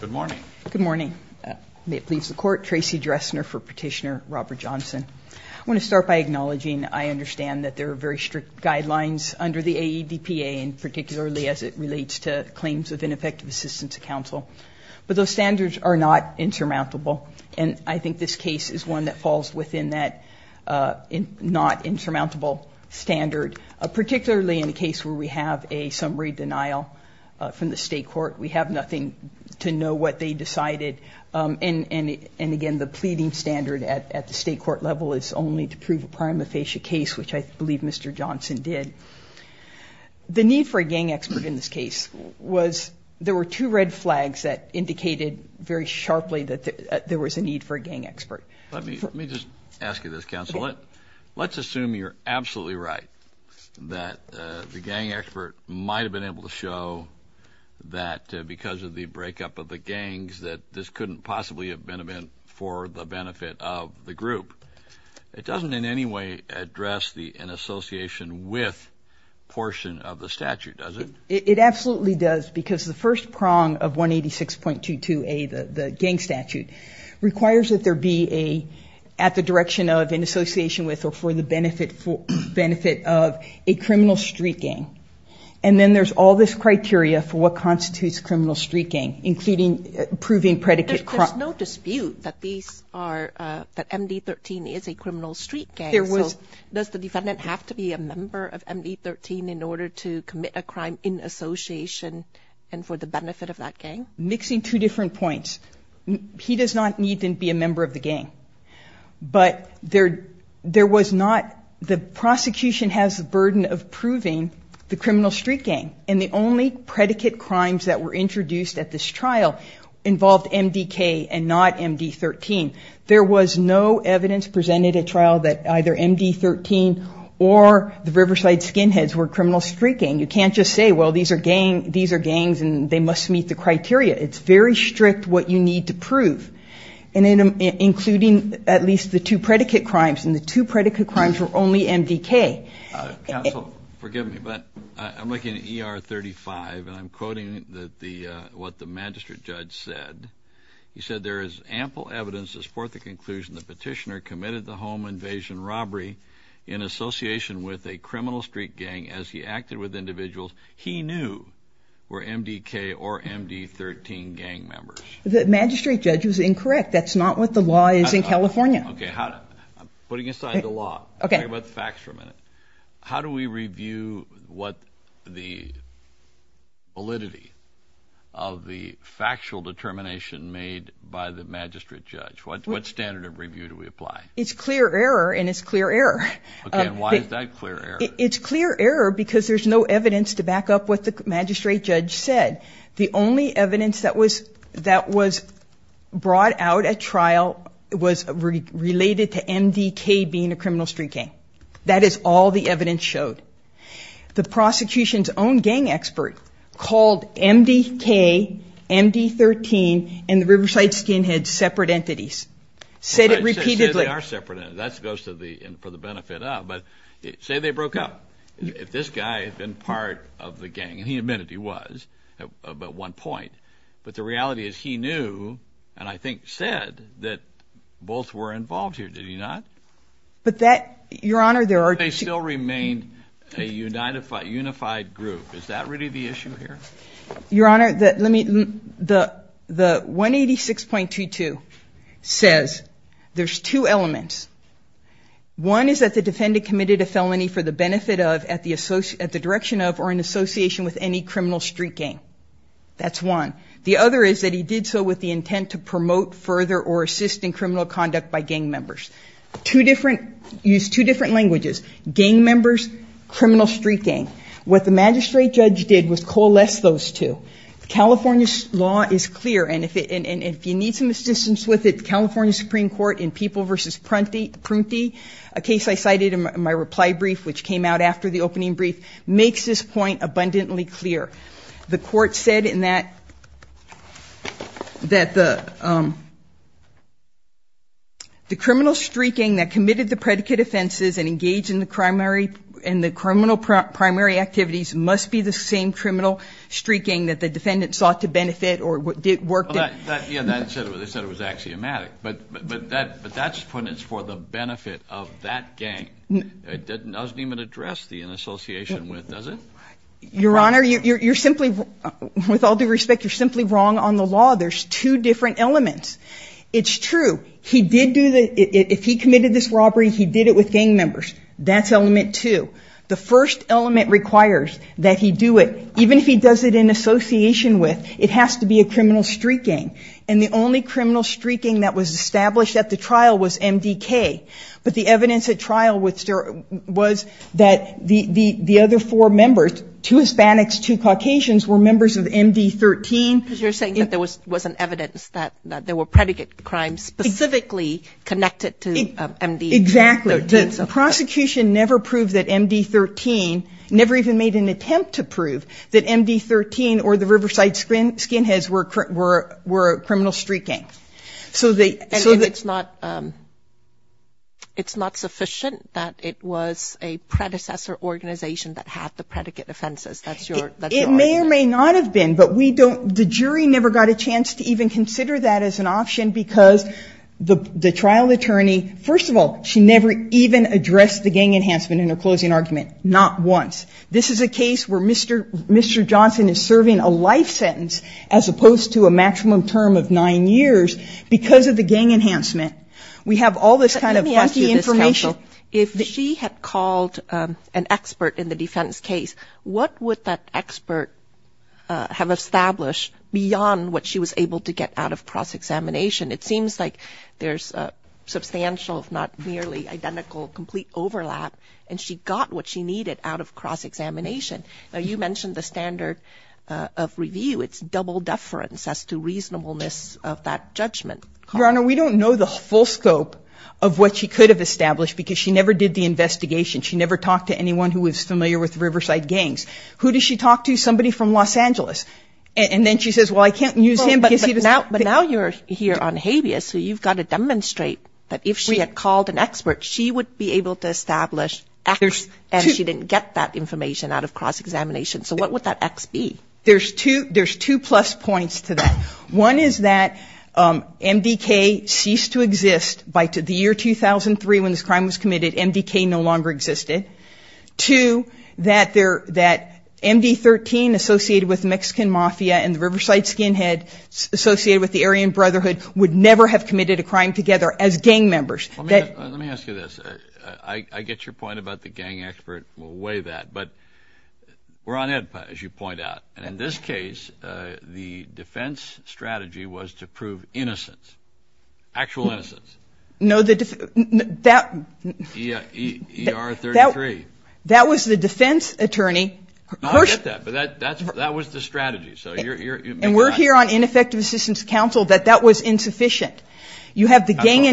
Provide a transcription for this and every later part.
Good morning. Good morning. May it please the Court, Tracy Dressner for Petitioner, Robert Johnson. I want to start by acknowledging I understand that there are very strict guidelines under the AEDPA and particularly as it relates to claims of ineffective assistance to counsel. But those standards are not insurmountable, and I think this case is one that falls within that not insurmountable standard, particularly in a case where we have a summary denial from the state court. We have nothing to know what they decided. And again, the pleading standard at the state court level is only to prove a prima facie case, which I believe Mr. Johnson did. The need for a gang expert in this case was there were two red flags that indicated very sharply that there was a need for a gang expert. Let me just ask you this, counsel. Let's assume you're absolutely right that the gang expert might have been able to show that because of the breakup of the gangs that this couldn't possibly have been for the benefit of the group. It doesn't in any way address the inassociation with portion of the statute, does it? It absolutely does because the first prong of 186.22a, the gang statute, requires that there be at the direction of, in association with, or for the benefit of a criminal street gang. And then there's all this criteria for what constitutes criminal street gang, including proving predicate crime. There's no dispute that MD-13 is a criminal street gang, so does the defendant have to be a member of MD-13 in order to commit a crime in association and for the benefit of that gang? Mixing two different points. He does not need to be a member of the gang. But there was not the prosecution has the burden of proving the criminal street gang, and the only predicate crimes that were introduced at this trial involved MD-K and not MD-13. There was no evidence presented at trial that either MD-13 or the Riverside Skinheads were criminal street gang. You can't just say, well, these are gangs and they must meet the criteria. It's very strict what you need to prove, including at least the two predicate crimes, and the two predicate crimes were only MD-K. Counsel, forgive me, but I'm looking at ER-35, and I'm quoting what the magistrate judge said. He said there is ample evidence to support the conclusion the petitioner committed the home invasion robbery in association with a criminal street gang as he acted with individuals he knew were MD-K or MD-13 gang members. The magistrate judge was incorrect. That's not what the law is in California. Okay, putting aside the law, let's talk about the facts for a minute. How do we review what the validity of the factual determination made by the magistrate judge? What standard of review do we apply? It's clear error, and it's clear error. Okay, and why is that clear error? It's clear error because there's no evidence to back up what the magistrate judge said. The only evidence that was brought out at trial was related to MD-K being a criminal street gang. That is all the evidence showed. The prosecution's own gang expert called MD-K, MD-13, and the Riverside Skinheads separate entities, said it repeatedly. Say they are separate entities. That goes for the benefit of, but say they broke up. If this guy had been part of the gang, and he admitted he was at one point, but the reality is he knew and I think said that both were involved here, did he not? But that, Your Honor, there are two. They still remained a unified group. Is that really the issue here? Your Honor, the 186.22 says there's two elements. One is that the defendant committed a felony for the benefit of, at the direction of, or in association with any criminal street gang. That's one. The other is that he did so with the intent to promote further or assist in criminal conduct by gang members. Use two different languages, gang members, criminal street gang. What the magistrate judge did was coalesce those two. California's law is clear, and if you need some assistance with it, the California Supreme Court in People v. Prunty, a case I cited in my reply brief, which came out after the opening brief, makes this point abundantly clear. The court said that the criminal street gang that committed the predicate offenses and engaged in the criminal primary activities must be the same criminal street gang that the defendant sought to benefit or worked at. Yeah, they said it was axiomatic. But that's for the benefit of that gang. It doesn't even address the in association with, does it? Your Honor, you're simply, with all due respect, you're simply wrong on the law. There's two different elements. It's true. If he committed this robbery, he did it with gang members. That's element two. The first element requires that he do it, even if he does it in association with, it has to be a criminal street gang. And the only criminal street gang that was established at the trial was MDK. But the evidence at trial was that the other four members, two Hispanics, two Caucasians, were members of MD13. You're saying that there was an evidence that there were predicate crimes specifically connected to MD13. Exactly. The prosecution never proved that MD13, never even made an attempt to prove that MD13 or the Riverside Skinheads were a criminal street gang. And it's not sufficient that it was a predecessor organization that had the predicate offenses. That's your argument. It may or may not have been, but we don't, the jury never got a chance to even consider that as an option because the trial attorney, first of all, she never even addressed the gang enhancement in her closing argument, not once. This is a case where Mr. Johnson is serving a life sentence as opposed to a maximum term of nine years because of the gang enhancement. Let me ask you this, counsel. If she had called an expert in the defense case, what would that expert have established beyond what she was able to get out of cross-examination? It seems like there's substantial, if not nearly identical, complete overlap, and she got what she needed out of cross-examination. Now, you mentioned the standard of review. It's double deference as to reasonableness of that judgment. Your Honor, we don't know the full scope of what she could have established because she never did the investigation. She never talked to anyone who was familiar with Riverside Gangs. Who does she talk to? Somebody from Los Angeles. And then she says, well, I can't use him because he doesn't ---- But now you're here on habeas, so you've got to demonstrate that if she had called an expert, she would be able to establish X and she didn't get that information out of cross-examination. So what would that X be? There's two plus points to that. One is that MDK ceased to exist by the year 2003 when this crime was committed. MDK no longer existed. Two, that MD-13 associated with Mexican Mafia and the Riverside Skinhead associated with the Aryan Brotherhood would never have committed a crime together as gang members. Let me ask you this. I get your point about the gang expert. We'll weigh that. But we're on EDPA, as you point out. And in this case, the defense strategy was to prove innocence, actual innocence. No, the defense ---- ER-33. That was the defense attorney. I get that. But that was the strategy. And we're here on ineffective assistance counsel that that was insufficient. You have the gang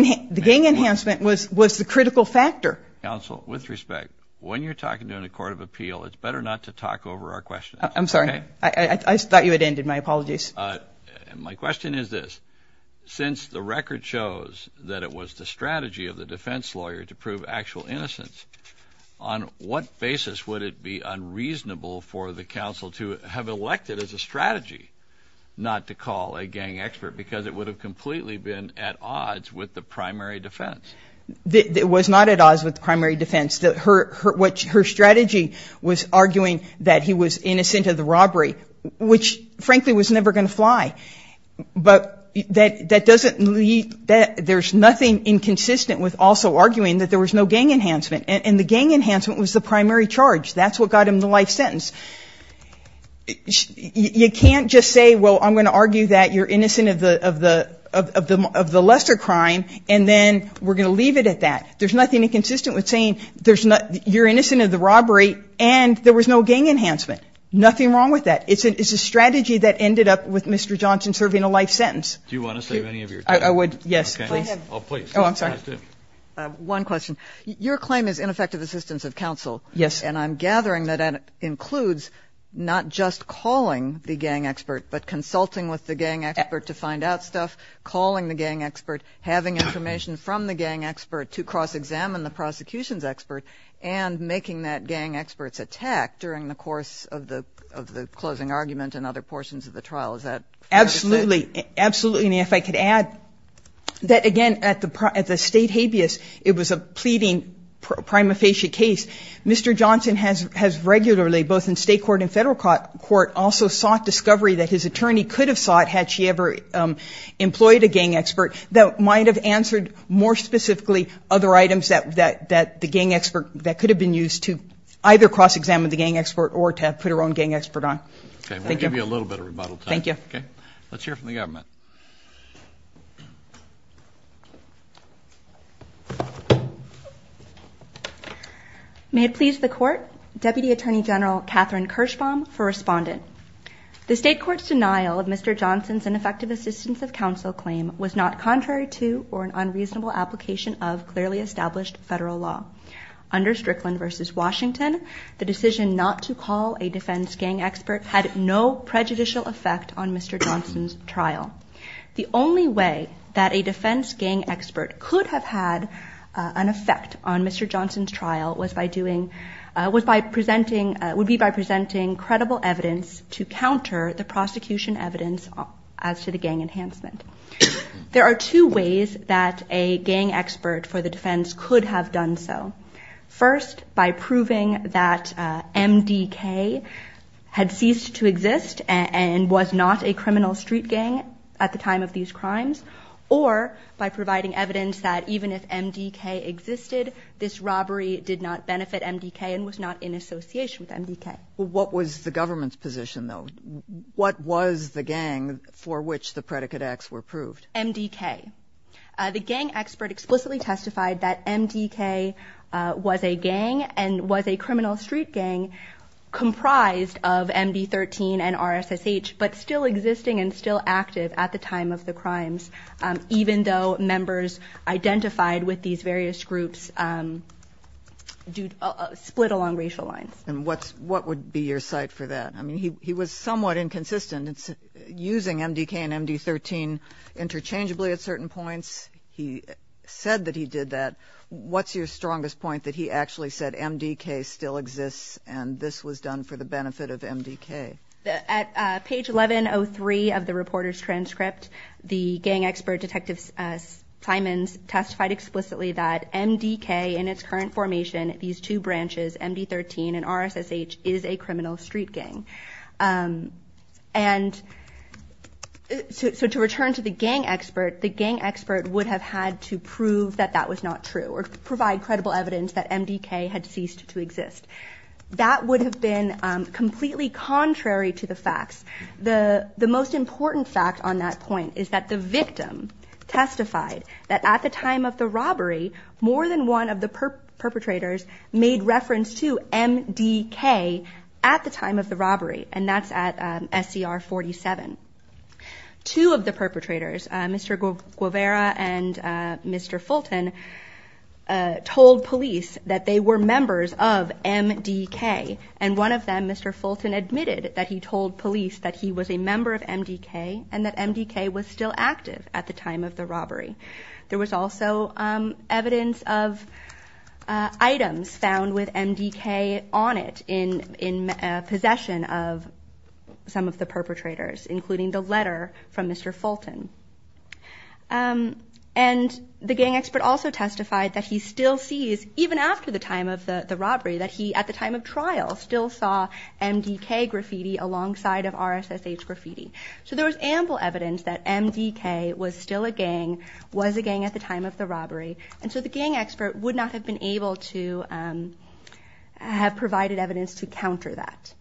enhancement was the critical factor. Counsel, with respect, when you're talking to a court of appeal, it's better not to talk over our questions. I'm sorry. I thought you had ended. My apologies. My question is this. Since the record shows that it was the strategy of the defense lawyer to prove actual innocence, on what basis would it be unreasonable for the counsel to have elected as a strategy not to call a gang expert because it would have completely been at odds with the primary defense? It was not at odds with the primary defense. Her strategy was arguing that he was innocent of the robbery, which, frankly, was never going to fly. But that doesn't lead ---- there's nothing inconsistent with also arguing that there was no gang enhancement. And the gang enhancement was the primary charge. That's what got him the life sentence. You can't just say, well, I'm going to argue that you're innocent of the lesser crime, and then we're going to leave it at that. There's nothing inconsistent with saying you're innocent of the robbery and there was no gang enhancement. Nothing wrong with that. It's a strategy that ended up with Mr. Johnson serving a life sentence. Do you want to say any of your things? I would, yes. Please. Oh, please. Oh, I'm sorry. One question. Your claim is ineffective assistance of counsel. Yes. And I'm gathering that that includes not just calling the gang expert, but consulting with the gang expert to find out stuff, calling the gang expert, having information from the gang expert to cross-examine the prosecution's expert, and making that gang expert's attack during the course of the closing argument and other portions of the trial. Is that ---- Absolutely. Absolutely. And if I could add that, again, at the state habeas, it was a pleading prima facie case. Mr. Johnson has regularly, both in state court and federal court, also sought discovery that his attorney could have sought had she ever employed a gang expert. That might have answered more specifically other items that the gang expert ---- that could have been used to either cross-examine the gang expert or to put her own gang expert on. Thank you. We'll give you a little bit of rebuttal time. Thank you. Okay. Let's hear from the government. May it please the Court, Deputy Attorney General Kathryn Kirschbaum for respondent. The state court's denial of Mr. Johnson's ineffective assistance of counsel claim was not contrary to or an unreasonable application of clearly established federal law. Under Strickland v. Washington, the decision not to call a defense gang expert had no prejudicial effect on Mr. Johnson's trial. The only way that a defense gang expert could have had an effect on Mr. Johnson's trial was by presenting ---- would be by presenting credible evidence to counter the prosecution evidence as to the gang enhancement. There are two ways that a gang expert for the defense could have done so. First, by proving that MDK had ceased to exist and was not a criminal street gang at the time of these crimes, or by providing evidence that even if MDK existed, this robbery did not benefit MDK and was not in association with MDK. What was the government's position, though? What was the gang for which the predicate acts were proved? MDK. The gang expert explicitly testified that MDK was a gang and was a criminal street gang comprised of MD13 and RSSH, but still existing and still active at the time of the crimes, even though members identified with these various groups split along racial lines. And what would be your cite for that? I mean, he was somewhat inconsistent using MDK and MD13 interchangeably at certain points. He said that he did that. What's your strongest point that he actually said MDK still exists and this was done for the benefit of MDK? At page 1103 of the reporter's transcript, the gang expert, Detective Simons, testified explicitly that MDK in its current formation, these two branches, MD13 and RSSH, is a criminal street gang. And so to return to the gang expert, the gang expert would have had to prove that that was not true or provide credible evidence that MDK had ceased to exist. That would have been completely contrary to the facts. The most important fact on that point is that the victim testified that at the time of the robbery, more than one of the perpetrators made reference to MDK at the time of the robbery, and that's at SCR 47. Two of the perpetrators, Mr. Guevara and Mr. Fulton, told police that they were members of MDK, and one of them, Mr. Fulton, admitted that he told police that he was a member of MDK and that MDK was still active at the time of the robbery. There was also evidence of items found with MDK on it in possession of some of the perpetrators, including the letter from Mr. Fulton. And the gang expert also testified that he still sees, even after the time of the robbery, that he, at the time of trial, still saw MDK graffiti alongside of RSSH graffiti. So there was ample evidence that MDK was still a gang, was a gang at the time of the robbery, and so the gang expert would not have been able to have provided evidence to counter that.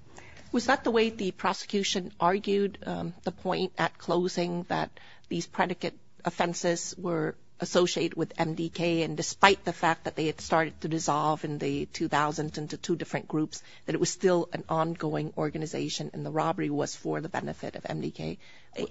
Was that the way the prosecution argued the point at closing, that these predicate offenses were associated with MDK, and despite the fact that they had started to dissolve in the 2000s into two different groups, that it was still an ongoing organization and the robbery was for the benefit of MDK?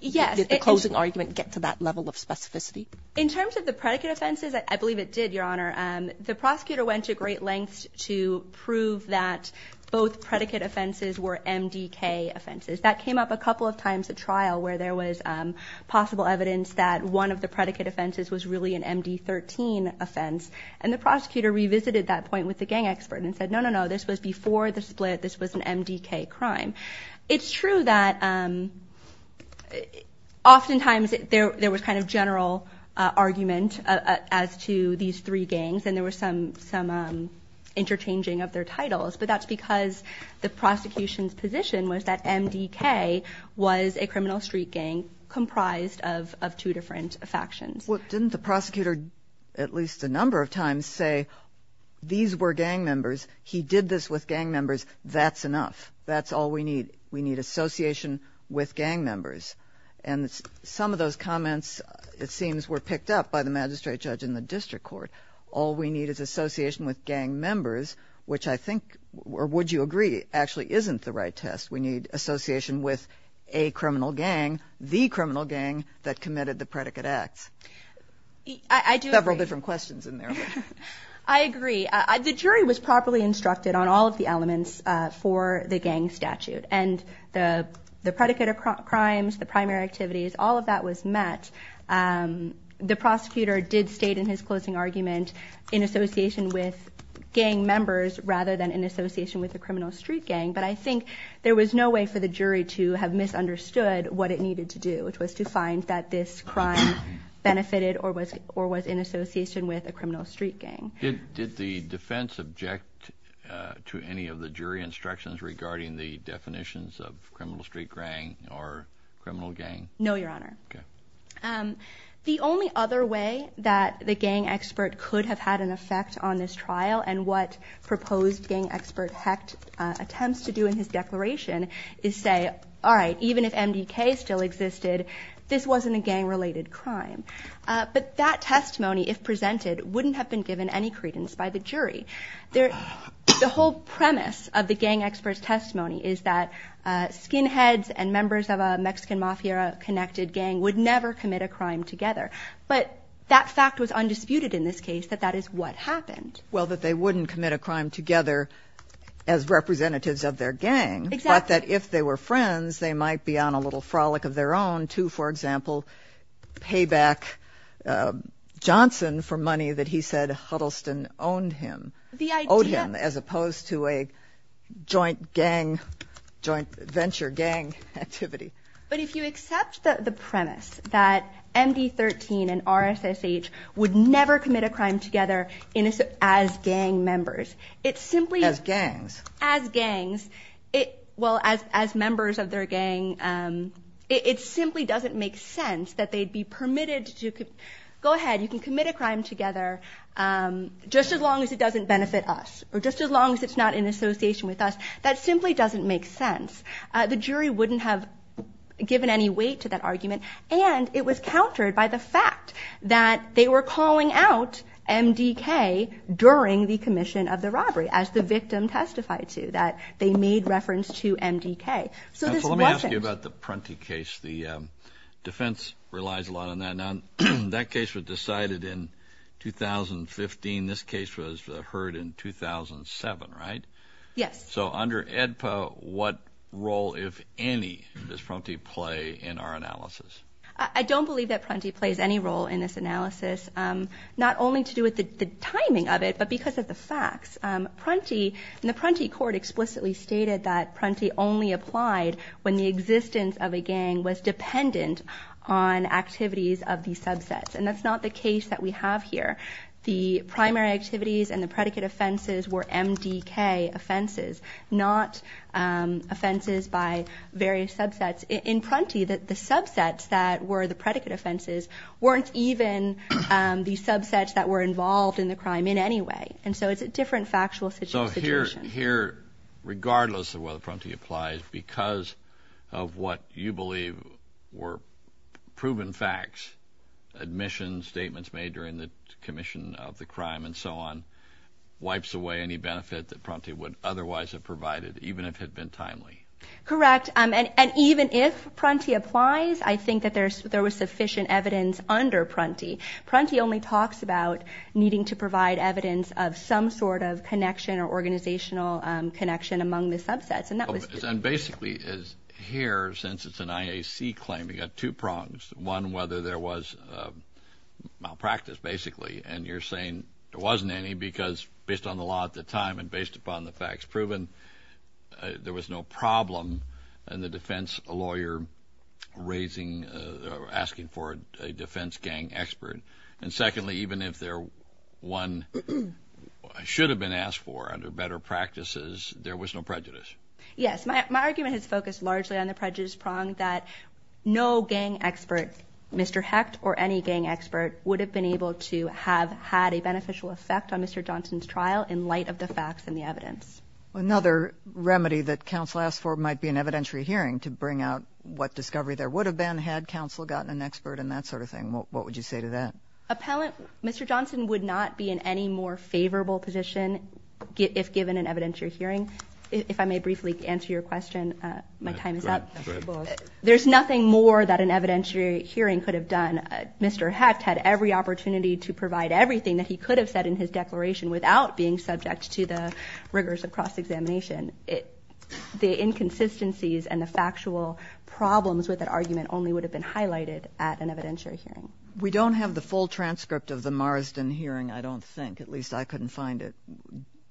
Yes. Did the closing argument get to that level of specificity? In terms of the predicate offenses, I believe it did, Your Honor. The prosecutor went to great lengths to prove that both predicate offenses were MDK offenses. That came up a couple of times at trial, where there was possible evidence that one of the predicate offenses was really an MD13 offense, and the prosecutor revisited that point with the gang expert and said, no, no, no, this was before the split, this was an MDK crime. It's true that oftentimes there was kind of general argument as to these three gangs, and there was some interchanging of their titles, but that's because the prosecution's position was that MDK was a criminal street gang comprised of two different factions. Well, didn't the prosecutor at least a number of times say these were gang members, he did this with gang members, that's enough, that's all we need, we need association with gang members? And some of those comments, it seems, were picked up by the magistrate judge in the district court. All we need is association with gang members, which I think, or would you agree, actually isn't the right test. We need association with a criminal gang, the criminal gang that committed the predicate acts. I do agree. Several different questions in there. I agree. The jury was properly instructed on all of the elements for the gang statute, and the predicate of crimes, the primary activities, all of that was met. The prosecutor did state in his closing argument in association with gang members rather than in association with a criminal street gang, but I think there was no way for the jury to have misunderstood what it needed to do, which was to find that this crime benefited or was in association with a criminal street gang. Did the defense object to any of the jury instructions regarding the definitions of criminal street gang or criminal gang? No, Your Honor. Okay. The only other way that the gang expert could have had an effect on this trial and what proposed gang expert Hecht attempts to do in his declaration is say, all right, even if MDK still existed, this wasn't a gang-related crime. But that testimony, if presented, wouldn't have been given any credence by the jury. The whole premise of the gang expert's testimony is that skinheads and members of a Mexican Mafia-connected gang would never commit a crime together. But that fact was undisputed in this case that that is what happened. Well, that they wouldn't commit a crime together as representatives of their gang. Exactly. And the fact that if they were friends, they might be on a little frolic of their own to, for example, pay back Johnson for money that he said Huddleston owned him, owed him as opposed to a joint gang, joint venture gang activity. But if you accept the premise that MD13 and RSSH would never commit a crime together as gang members, it simply- As gangs. As gangs. Well, as members of their gang, it simply doesn't make sense that they'd be permitted to go ahead, you can commit a crime together just as long as it doesn't benefit us or just as long as it's not in association with us. That simply doesn't make sense. The jury wouldn't have given any weight to that argument. And it was countered by the fact that they were calling out MDK during the commission of the robbery, as the victim testified to, that they made reference to MDK. So this wasn't- Let me ask you about the Prunty case. The defense relies a lot on that. Now, that case was decided in 2015. This case was heard in 2007, right? Yes. So under AEDPA, what role, if any, does Prunty play in our analysis? I don't believe that Prunty plays any role in this analysis, not only to do with the timing of it, but because of the facts. Prunty, and the Prunty court explicitly stated that Prunty only applied when the existence of a gang was dependent on activities of the subsets. And that's not the case that we have here. The primary activities and the predicate offenses were MDK offenses, not offenses by various subsets. In Prunty, the subsets that were the predicate offenses weren't even the subsets that were involved in the crime in any way. And so it's a different factual situation. So here, regardless of whether Prunty applies, because of what you believe were proven facts, admissions, statements made during the commission of the crime, and so on, wipes away any benefit that Prunty would otherwise have provided, even if it had been timely. Correct. And even if Prunty applies, I think that there was sufficient evidence under Prunty. Prunty only talks about needing to provide evidence of some sort of connection or organizational connection among the subsets. And basically, here, since it's an IAC claim, we've got two prongs. One, whether there was malpractice, basically. And you're saying there wasn't any, because based on the law at the time and based upon the facts proven, there was no problem in the defense lawyer raising or asking for a defense gang expert. And secondly, even if there were one should have been asked for under better practices, there was no prejudice. Yes. My argument has focused largely on the prejudice prong that no gang expert, Mr. Hecht or any gang expert, would have been able to have had a beneficial effect on Mr. Johnson's trial in light of the facts and the evidence. Another remedy that counsel asked for might be an evidentiary hearing to bring out what discovery there would have been had counsel gotten an expert in that sort of thing. What would you say to that? Appellant, Mr. Johnson would not be in any more favorable position if given an evidentiary hearing. If I may briefly answer your question, my time is up. Go ahead. There's nothing more that an evidentiary hearing could have done. Mr. Hecht had every opportunity to provide everything that he could have said in his declaration without being subject to the rigors of cross-examination. The inconsistencies and the factual problems with that argument only would have been highlighted at an evidentiary hearing. We don't have the full transcript of the Marsden hearing, I don't think. At least I couldn't find it.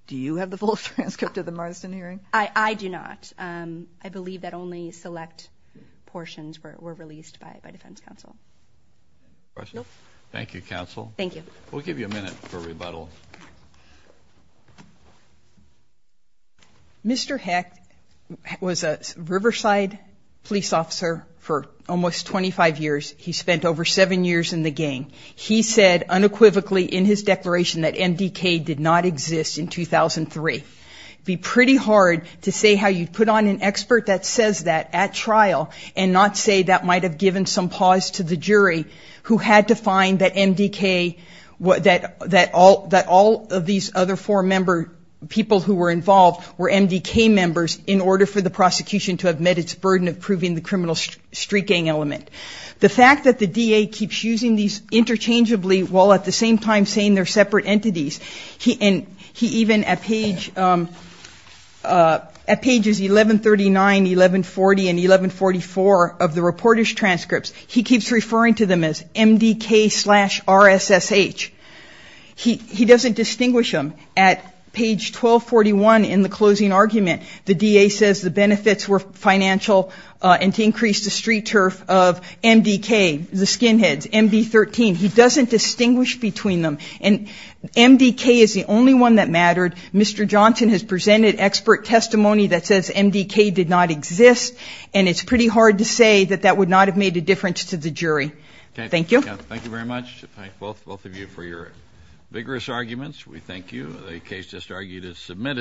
Do you have the full transcript of the Marsden hearing? I do not. I believe that only select portions were released by defense counsel. Thank you, counsel. Thank you. We'll give you a minute for rebuttal. Mr. Hecht was a Riverside police officer for almost 25 years. He spent over seven years in the gang. He said unequivocally in his declaration that MDK did not exist in 2003. It would be pretty hard to say how you'd put on an expert that says that at trial and not say that might have given some pause to the jury who had to find that MDK, that all of these other four people who were involved were MDK members in order for the prosecution to have met its burden of proving the criminal street gang element. The fact that the DA keeps using these interchangeably while at the same time saying they're separate entities, and he even at pages 1139, 1140, and 1144 of the reporter's transcripts, he keeps referring to them as MDK slash RSSH. He doesn't distinguish them. At page 1241 in the closing argument, the DA says the benefits were financial and to increase the street turf of MDK, the skinheads, MB13. He doesn't distinguish between them. And MDK is the only one that mattered. Mr. Johnson has presented expert testimony that says MDK did not exist, and it's pretty hard to say that that would not have made a difference to the jury. Thank you. Thank you very much. Thank both of you for your vigorous arguments. We thank you. The case just argued is submitted.